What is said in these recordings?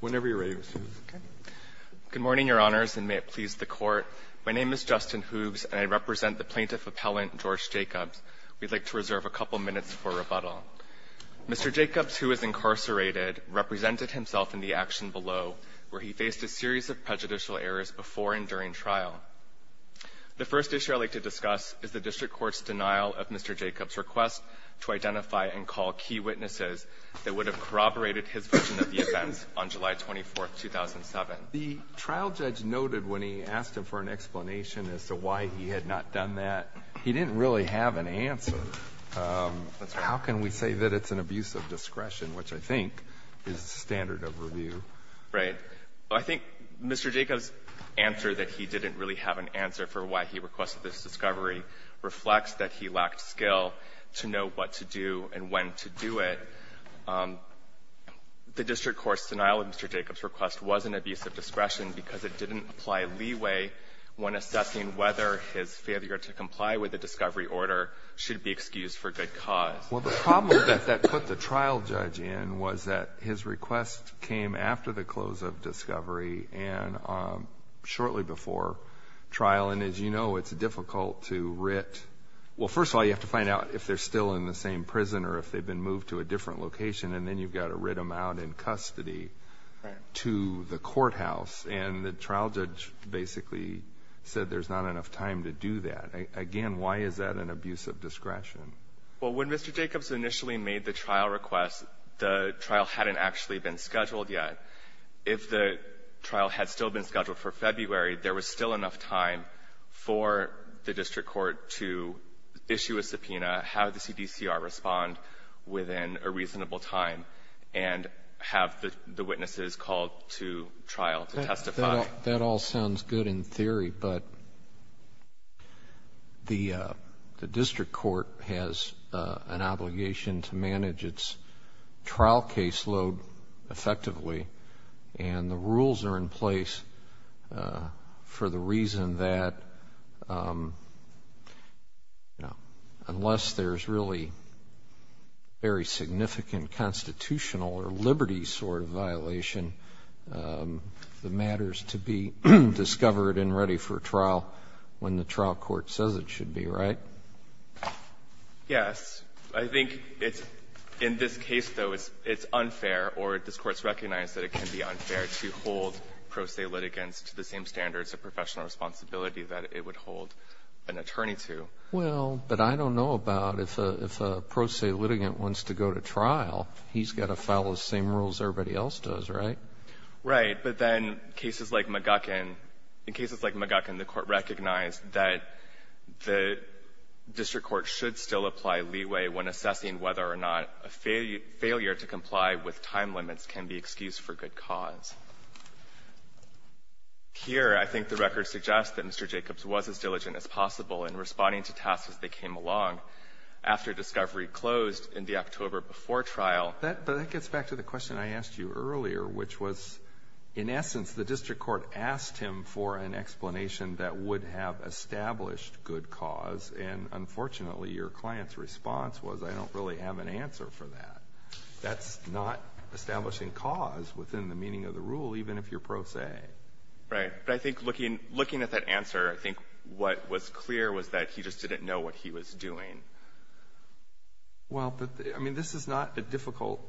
Good morning, Your Honors, and may it please the Court. My name is Justin Hooves, and I represent the Plaintiff Appellant, George Jacobs. We'd like to reserve a couple minutes for rebuttal. Mr. Jacobs, who is incarcerated, represented himself in the action below, where he faced a series of prejudicial errors before and during trial. The first issue I'd like to discuss is the District Court's denial of Mr. Jacobs' request to identify and call key witnesses that would have corroborated his vision of the events on July 24, 2007. The trial judge noted when he asked him for an explanation as to why he had not done that, he didn't really have an answer. How can we say that it's an abuse of discretion, which I think is the standard of review? Right. I think Mr. Jacobs' answer that he didn't really have an answer for why he requested this discovery reflects that he lacked skill to know what to do and when to do it. The District Court's denial of Mr. Jacobs' request was an abuse of discretion because it didn't apply leeway when assessing whether his failure to comply with the discovery order should be excused for good cause. Well, the problem that that put the trial judge in was that his request came after the close of discovery and shortly before trial. And as you know, it's difficult to writ — well, first of all, you have to find out if they're still in the same prison or if they've been moved to a different location, and then you've got to writ them out in custody to the courthouse. And the trial judge basically said there's not enough time to do that. Again, why is that an abuse of discretion? Well, when Mr. Jacobs initially made the trial request, the trial hadn't actually been scheduled yet. If the trial had still been scheduled for February, there was still enough time for the District Court to issue a subpoena, have the CDCR respond within a reasonable time, and have the witnesses called to trial to testify. That all sounds good in theory, but the District Court has an obligation to manage effectively. And the rules are in place for the reason that, you know, unless there's really very significant constitutional or liberty sort of violation, the matter is to be discovered and ready for trial when the trial court says it should be, right? Yes. I think it's – in this case, though, it's unfair, or this Court's recognized that it can be unfair to hold pro se litigants to the same standards of professional responsibility that it would hold an attorney to. Well, but I don't know about if a pro se litigant wants to go to trial. He's got to follow the same rules everybody else does, right? Right. But then cases like McGuckin – in cases like McGuckin, the Court recognized that the District Court should still apply leeway when assessing whether or not a failure to comply with time limits can be excused for good cause. Here, I think the record suggests that Mr. Jacobs was as diligent as possible in responding to tasks as they came along. After discovery closed in the October before trial But that gets back to the question I asked you earlier, which was, in essence, the District established good cause, and unfortunately, your client's response was, I don't really have an answer for that. That's not establishing cause within the meaning of the rule, even if you're pro se. Right. But I think looking at that answer, I think what was clear was that he just didn't know what he was doing. Well, but – I mean, this is not a difficult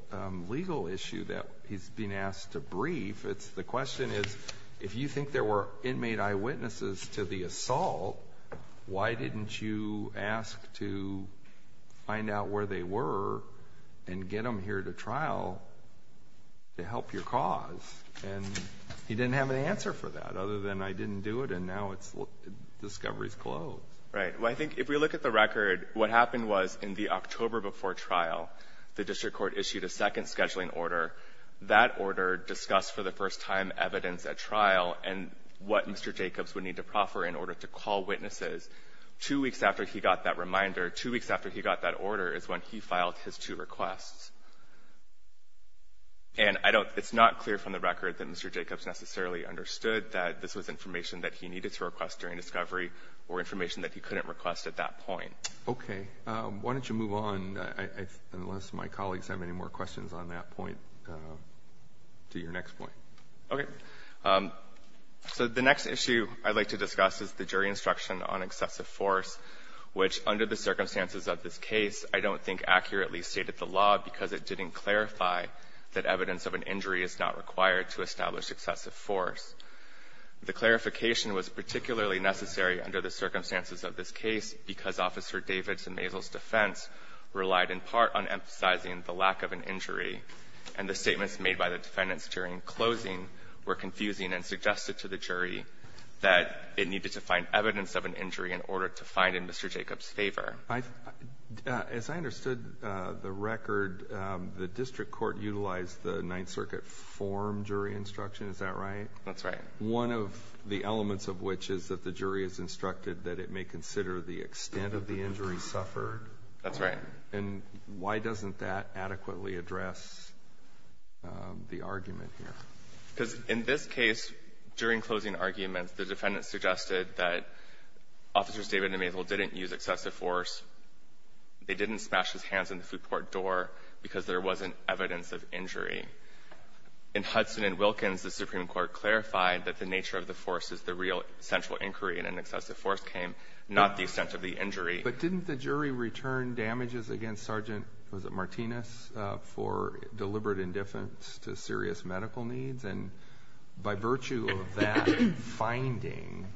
legal issue that he's being asked to brief. The question is, if you think there were inmate eyewitnesses to the assault, why didn't you ask to find out where they were and get them here to trial to help your cause? And he didn't have an answer for that, other than, I didn't do it, and now it's – discovery is closed. Right. Well, I think if we look at the record, what happened was, in the October before trial, the District Court issued a second scheduling order. That order discussed for the first time evidence at trial and what Mr. Jacobs would need to proffer in order to call witnesses. Two weeks after he got that reminder, two weeks after he got that order, is when he filed his two requests. And I don't – it's not clear from the record that Mr. Jacobs necessarily understood that this was information that he needed to request during discovery or information that he couldn't request at that point. Okay. Why don't you move on, unless my colleagues have any more questions on that point, to your next point. Okay. So the next issue I'd like to discuss is the jury instruction on excessive force, which under the circumstances of this case, I don't think accurately stated the law because it didn't clarify that evidence of an injury is not required to establish excessive force. The clarification was particularly necessary under the circumstances of this case because Officer David's and Mazel's defense relied in part on emphasizing the lack of an injury. And the statements made by the defendants during closing were confusing and suggested to the jury that it needed to find evidence of an injury in order to find in Mr. Jacobs' favor. As I understood the record, the District Court utilized the Ninth Circuit form jury instruction. Is that right? That's right. One of the elements of which is that the jury is instructed that it may consider the extent of the injury suffered. That's right. And why doesn't that adequately address the argument here? Because in this case, during closing arguments, the defendants suggested that Officers David and Mazel didn't use excessive force. They didn't smash his hands in the food court door because there wasn't evidence of injury. In Hudson and Wilkins, the Supreme Court clarified that the nature of the force is the real central inquiry and an excessive force came, not the extent of the injury. But didn't the jury return damages against Sergeant, was it, Martinez for deliberate indifference to serious medical needs? And by virtue of that finding,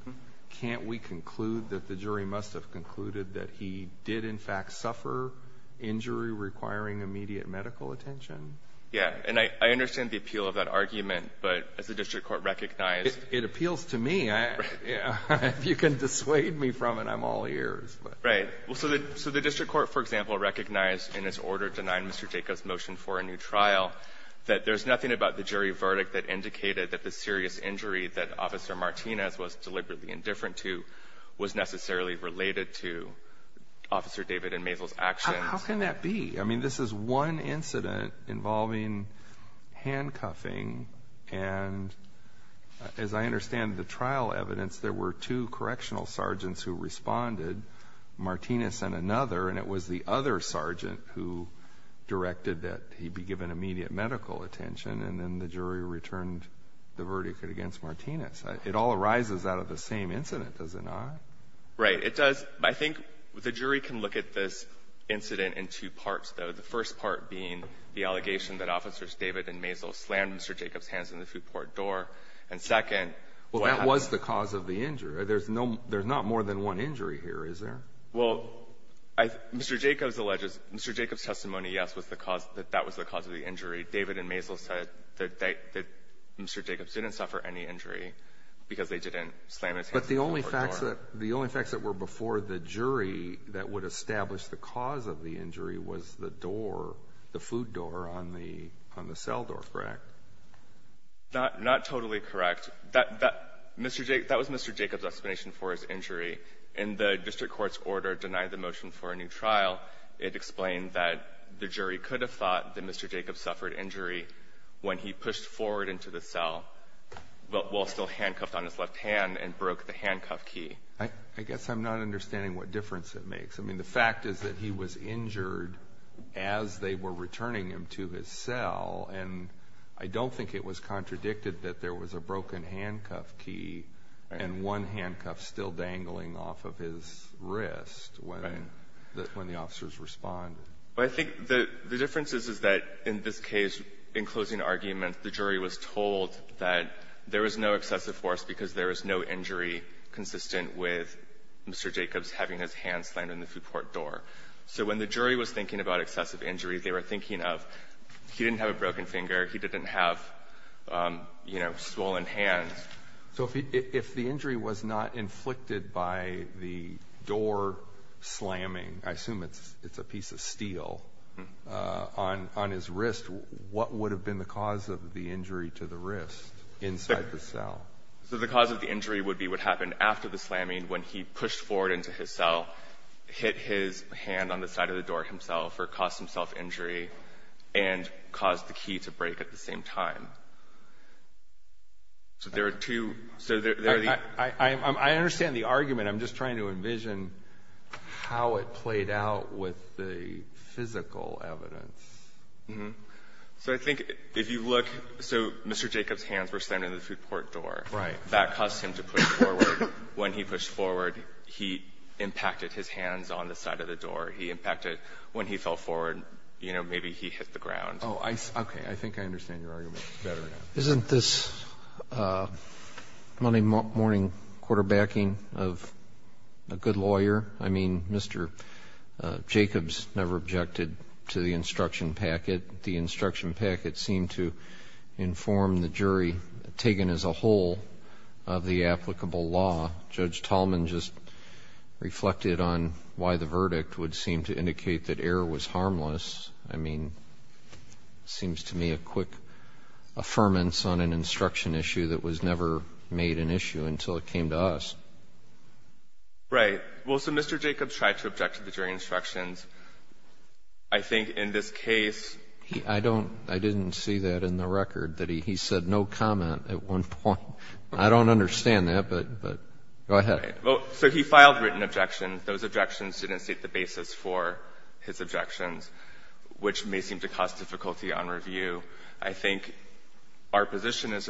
can't we conclude that the jury must have concluded that he did, in fact, suffer injury requiring immediate medical attention? Yeah. And I understand the appeal of that argument, but as the District Court recognized It appeals to me. Right. If you can dissuade me from it, I'm all ears. Right. So the District Court, for example, recognized in its order denying Mr. Jacob's motion for a new trial that there's nothing about the jury verdict that indicated that the serious injury that Officer Martinez was deliberately indifferent to was necessarily related to Officer David and Mazel's actions. How can that be? I mean, this is one incident involving handcuffing. And as I understand the trial evidence, there were two correctional sergeants who responded, Martinez and another, and it was the other sergeant who directed that he be given immediate medical attention. And then the jury returned the verdict against Martinez. It all arises out of the same incident, does it not? Right. It does. I think the jury can look at this incident in two parts, though, the first part being the allegation that Officers David and Mazel slammed Mr. Jacob's hands in the food court door, and second, what happened was the cause of the injury. There's not more than one injury here, is there? Well, Mr. Jacob's testimony, yes, that that was the cause of the injury. David and Mazel said that Mr. Jacob didn't suffer any injury because they didn't slam his hands in the food court door. But the only facts that were before the jury that would establish the cause of the injury was the door, the food door on the cell door, correct? Not totally correct. That was Mr. Jacob's explanation for his injury. In the district court's order denying the motion for a new trial, it explained that the jury could have thought that Mr. Jacob suffered injury when he pushed forward into the cell while still handcuffed on his left hand and broke the handcuff key. I guess I'm not understanding what difference it makes. I mean, the fact is that he was injured as they were returning him to his cell, and I don't think it was contradicted that there was a broken handcuff key and one handcuff still dangling off of his wrist when the officers responded. But I think the difference is, is that in this case, in closing argument, the jury was told that there was no excessive force because there was no injury consistent with Mr. Jacob's having his hands slammed in the food court door. So when the jury was thinking about excessive injury, they were thinking of, he didn't have a broken finger, he didn't have, you know, swollen hands. So if the injury was not inflicted by the door slamming, I assume it's a piece of steel on his wrist, what would have been the cause of the injury to the wrist inside the cell? So the cause of the injury would be what happened after the slamming when he pushed forward into his cell, hit his hand on the side of the door himself, or caused himself injury, and caused the key to break at the same time. So there are two, so there are the- I understand the argument. I'm just trying to envision how it played out with the physical evidence. So I think if you look, so Mr. Jacob's hands were slammed in the food court door. Right. That caused him to push forward. When he pushed forward, he impacted his hands on the side of the door. He impacted, when he fell forward, you know, maybe he hit the ground. Oh, okay. I think I understand your argument better now. Isn't this Monday morning quarterbacking of a good lawyer? I mean, Mr. Jacobs never objected to the instruction packet. The instruction packet seemed to inform the jury, taken as a whole, of the applicable law. Judge Tallman just reflected on why the verdict would seem to indicate that error was harmless. I mean, it seems to me a quick affirmance on an instruction issue that was never made an issue until it came to us. Right. Well, so Mr. Jacobs tried to object to the jury instructions. I think in this case- I don't, I didn't see that in the record, that he said no comment at one point. I don't understand that, but go ahead. So he filed written objections. Those objections didn't state the basis for his objections, which may seem to cause difficulty on review. I think our position is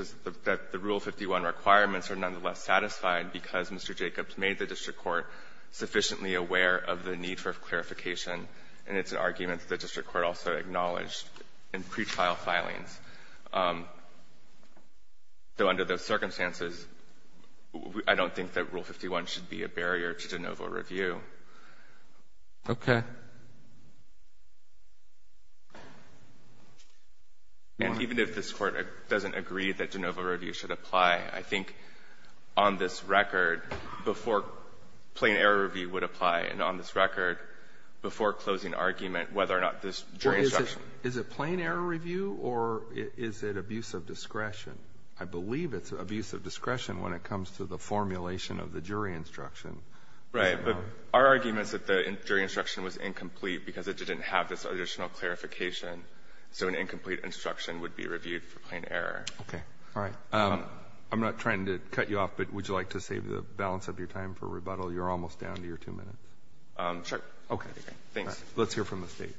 that the Rule 51 requirements are nonetheless satisfied because Mr. Jacobs made the district court sufficiently aware of the need for clarification. And it's an argument that the district court also acknowledged in pretrial filings. So under those circumstances, I don't think that Rule 51 should be a barrier to de novo review. Okay. And even if this Court doesn't agree that de novo review should apply, I think on this record, before plain error review would apply, and on this record, before closing argument, whether or not this jury instruction- Is it plain error review or is it abuse of discretion? I believe it's abuse of discretion when it comes to the formulation of the jury instruction. Right. But our argument is that the jury instruction was incomplete because it didn't have this additional clarification, so an incomplete instruction would be reviewed for plain error. Okay. All right. I'm not trying to cut you off, but would you like to save the balance of your time for rebuttal? You're almost down to your two minutes. Sure. Okay. Thanks. Let's hear from the State.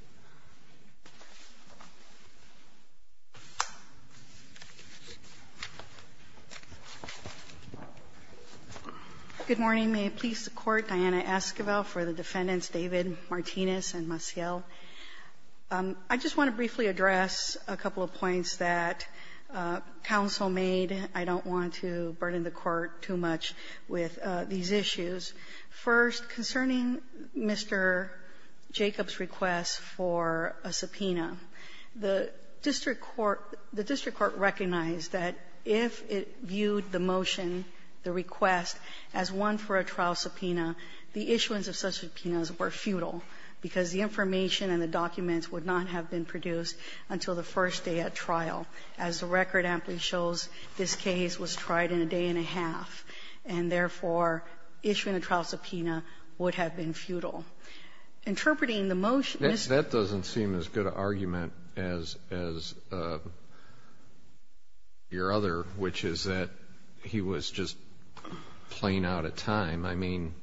Good morning. May it please the Court. Diana Esquivel for the defendants David Martinez and Maciel. I just want to briefly address a couple of points that counsel made. I don't want to burden the Court too much with these issues. First, concerning Mr. Jacobs' request for a subpoena, the district court recognized that if it viewed the motion, the request, as one for a trial subpoena, the issuance of such subpoenas were futile because the information and the documents would not have been produced until the first day at trial. As the record amply shows, this case was tried in a day and a half, and therefore, issuing a trial subpoena would have been futile. Interpreting the motion Mr. Jacobs' request for a trial subpoena would have been futile because the information and the documents would not have been produced until the first day at trial. That doesn't seem as good an argument as your other, which is that he was just playing out of time. I mean,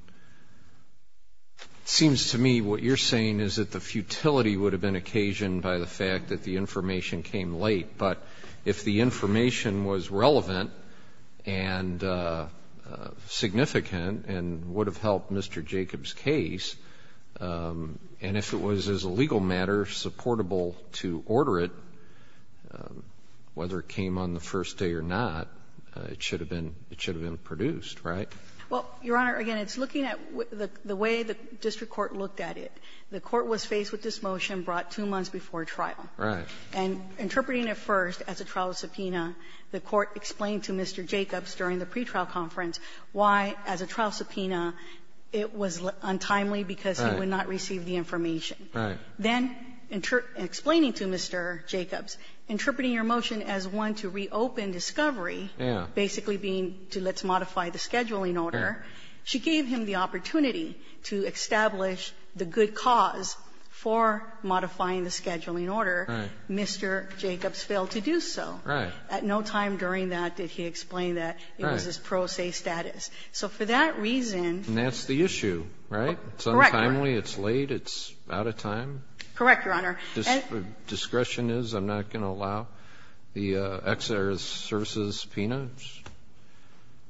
it seems to me what you're saying is that the futility would have been occasioned by the fact that the information came late, but if the information was relevant and significant and would have helped Mr. Jacobs' case, and if it was, as a legal matter, supportable to order it, whether it came on the first day or not, it should have been produced, right? Well, Your Honor, again, it's looking at the way the district court looked at it. The court was faced with this motion brought two months before trial. Right. And interpreting it first as a trial subpoena, the court explained to Mr. Jacobs during the pretrial conference why, as a trial subpoena, it was untimely because he would not receive the information. Right. Then explaining to Mr. Jacobs, interpreting your motion as one to reopen discovery, to establish the good cause for modifying the scheduling order, Mr. Jacobs failed to do so. Right. At no time during that did he explain that it was his pro se status. So for that reason the issue. Right? Correct. It's untimely, it's late, it's out of time. Correct, Your Honor. Discretion is I'm not going to allow the exert services subpoena?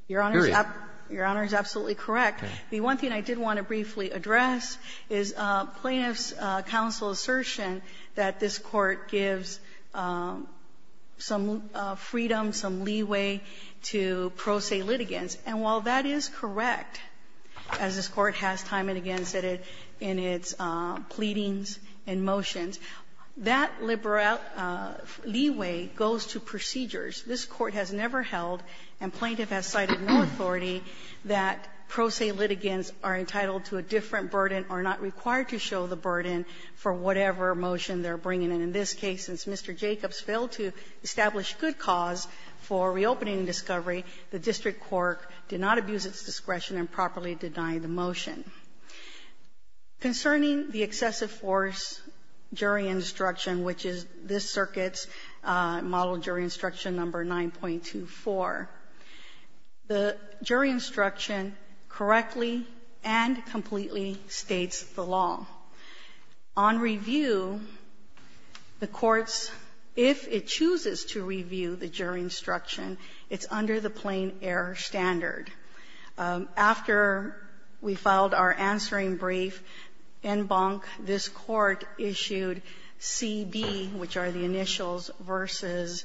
Your Honor is absolutely correct. The one thing I did want to briefly address is plaintiff's counsel's assertion that this Court gives some freedom, some leeway to pro se litigants. And while that is correct, as this Court has time and again said it in its pleadings and motions, that leeway goes to procedures. This Court has never held, and plaintiff has cited no authority, that pro se litigants are entitled to a different burden or not required to show the burden for whatever motion they're bringing. And in this case, since Mr. Jacobs failed to establish good cause for reopening discovery, the district court did not abuse its discretion in properly denying the motion. Concerning the excessive force jury instruction, which is this circuit's model jury instruction number 9.24, the jury instruction correctly and completely states the law. On review, the courts, if it chooses to review the jury instruction, it's under the plain-error standard. After we filed our answering brief in Bonk, this Court issued CB, which are the initials, versus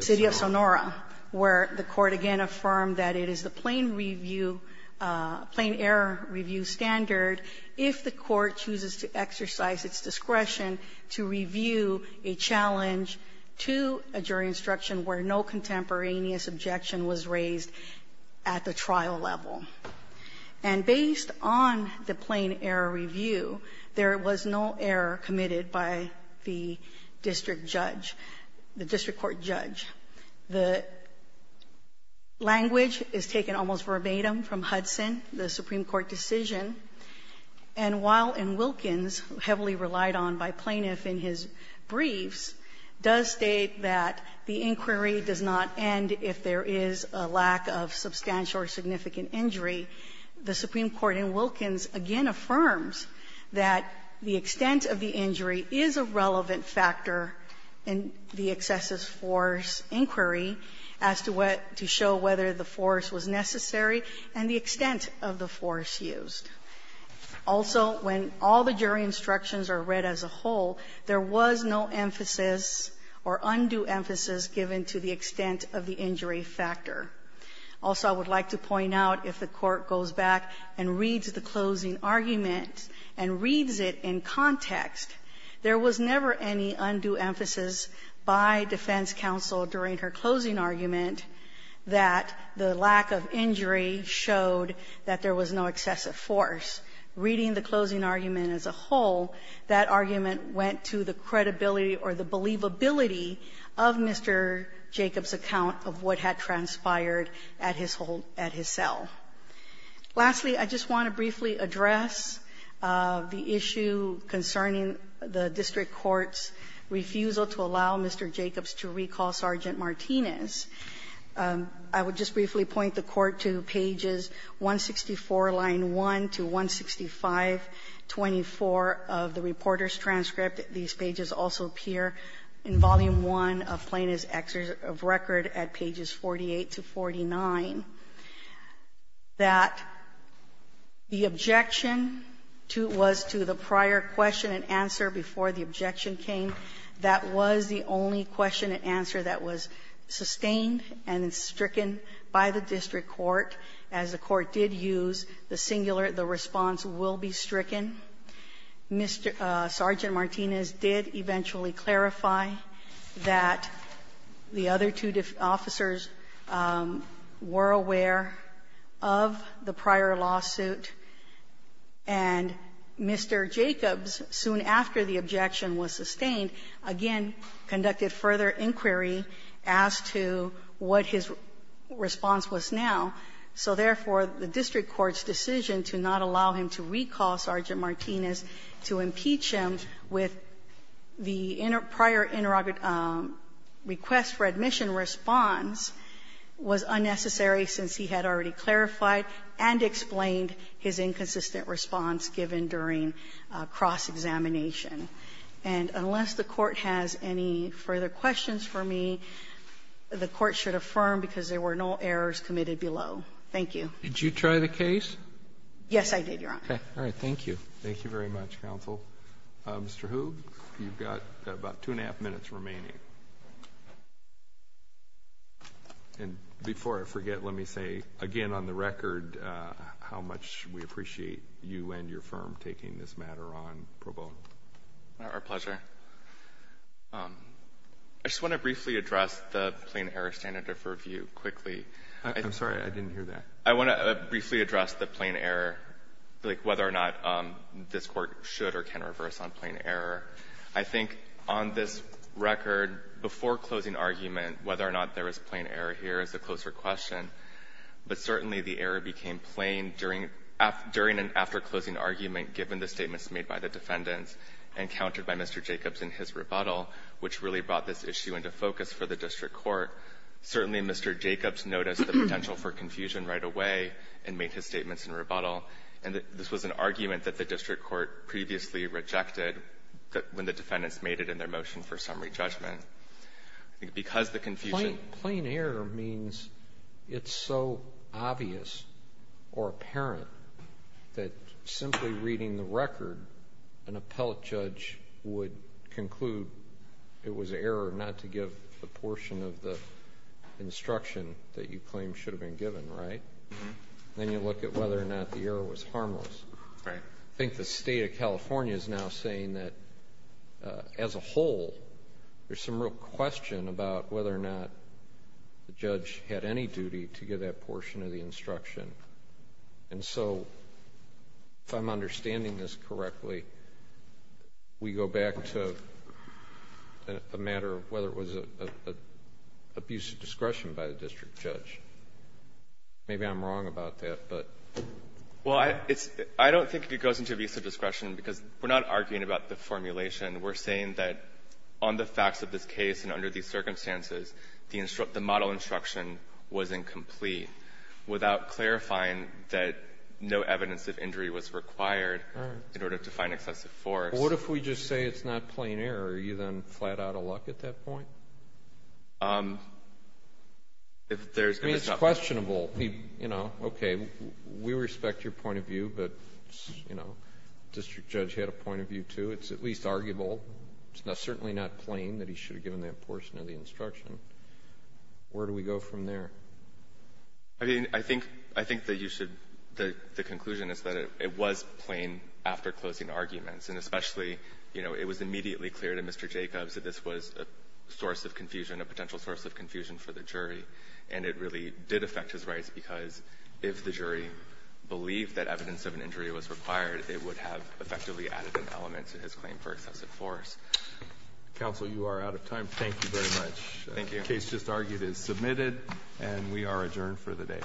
City of Sonora, where the Court again affirmed that it is the plain review, plain-error review standard if the Court chooses to exercise its discretion to review a challenge to a jury instruction where no contemporaneous objection was raised at the trial level. And based on the plain-error review, there was no error committed by the district judge, the district court judge. The language is taken almost verbatim from Hudson, the Supreme Court decision. And while in Wilkins, heavily relied on by plaintiff in his briefs, does state that the inquiry does not end if there is a lack of substantial or significant injury, the Supreme Court in Wilkins again affirms that the extent of the injury is a relevant factor in the excessive force inquiry as to what to show whether the force was necessary and the extent of the force used. Also, when all the jury instructions are read as a whole, there was no emphasis or undue emphasis given to the extent of the injury factor. Also, I would like to point out, if the Court goes back and reads the closing argument and reads it in context, there was never any undue emphasis by defense counsel during her closing argument that the lack of injury showed that there was no excessive force. Reading the closing argument as a whole, that argument went to the credibility or the believability of Mr. Jacobs' account of what had transpired at his whole at his cell. Lastly, I just want to briefly address the issue concerning the district court's refusal to allow Mr. Jacobs to recall Sergeant Martinez. I would just briefly point the Court to pages 164, line 1, to 165.24 of the reporter's transcript. These pages also appear in volume 1 of Plaintiff's record at pages 48 to 49, that the objection to the prior question and answer before the objection came, that was the only question and answer that was sustained and stricken by the district court. As the Court did use the singular, the response will be stricken. Sergeant Martinez did eventually clarify that the other two officers were aware of the prior lawsuit, and Mr. Jacobs, soon after the objection was sustained, again, conducted further inquiry as to what his response was now. So therefore, the district court's decision to not allow him to recall Sergeant Martinez, to impeach him with the prior request for admission response was unnecessary since he had already clarified and explained his inconsistent response given during cross-examination. And unless the Court has any further questions for me, the Court should affirm because there were no errors committed below. Thank you. Did you try the case? Yes, I did, Your Honor. Okay. All right. Thank you. Thank you very much, counsel. Mr. Hoog, you've got about two and a half minutes remaining. And before I forget, let me say again on the record how much we appreciate you and your firm taking this matter on pro bono. Our pleasure. I just want to briefly address the plain error standard of review quickly. I'm sorry. I didn't hear that. I want to briefly address the plain error, like whether or not this Court should or can reverse on plain error. I think on this record, before closing argument, whether or not there was plain error here is a closer question. But certainly, the error became plain during and after closing argument given the statements made by the defendants and countered by Mr. Jacobs in his rebuttal, which really brought this issue into focus for the district court. Certainly, Mr. Jacobs noticed the potential for confusion right away and made his statements in rebuttal. And this was an argument that the district court previously rejected when the defendants made it in their motion for summary judgment. I think because the confusion... Plain error means it's so obvious or apparent that simply reading the record, an appellate judge would conclude it was error not to give a portion of the instruction that the claim should have been given, right? Then you look at whether or not the error was harmless. I think the state of California is now saying that, as a whole, there's some real question about whether or not the judge had any duty to give that portion of the instruction. And so, if I'm understanding this correctly, we go back to a matter of whether it was an abuse of discretion by the district judge. Maybe I'm wrong about that, but... Well, I don't think it goes into abuse of discretion because we're not arguing about the formulation. We're saying that on the facts of this case and under these circumstances, the model instruction was incomplete without clarifying that no evidence of injury was required in order to find excessive force. All right. Well, what if we just say it's not plain error? Are you then flat out out of luck at that point? I mean, it's questionable. You know, okay, we respect your point of view, but, you know, district judge had a point of view, too. It's at least arguable. It's certainly not plain that he should have given that portion of the instruction. Where do we go from there? I mean, I think that you should the conclusion is that it was plain after closing arguments, and especially, you know, it was immediately clear to Mr. Jacobs that this was a source of confusion, a potential source of confusion for the jury, and it really did affect his rights because if the jury believed that evidence of an injury was required, they would have effectively added an element to his claim for excessive force. Counsel, you are out of time. Thank you very much. Thank you. The case just argued is submitted, and we are adjourned for the day.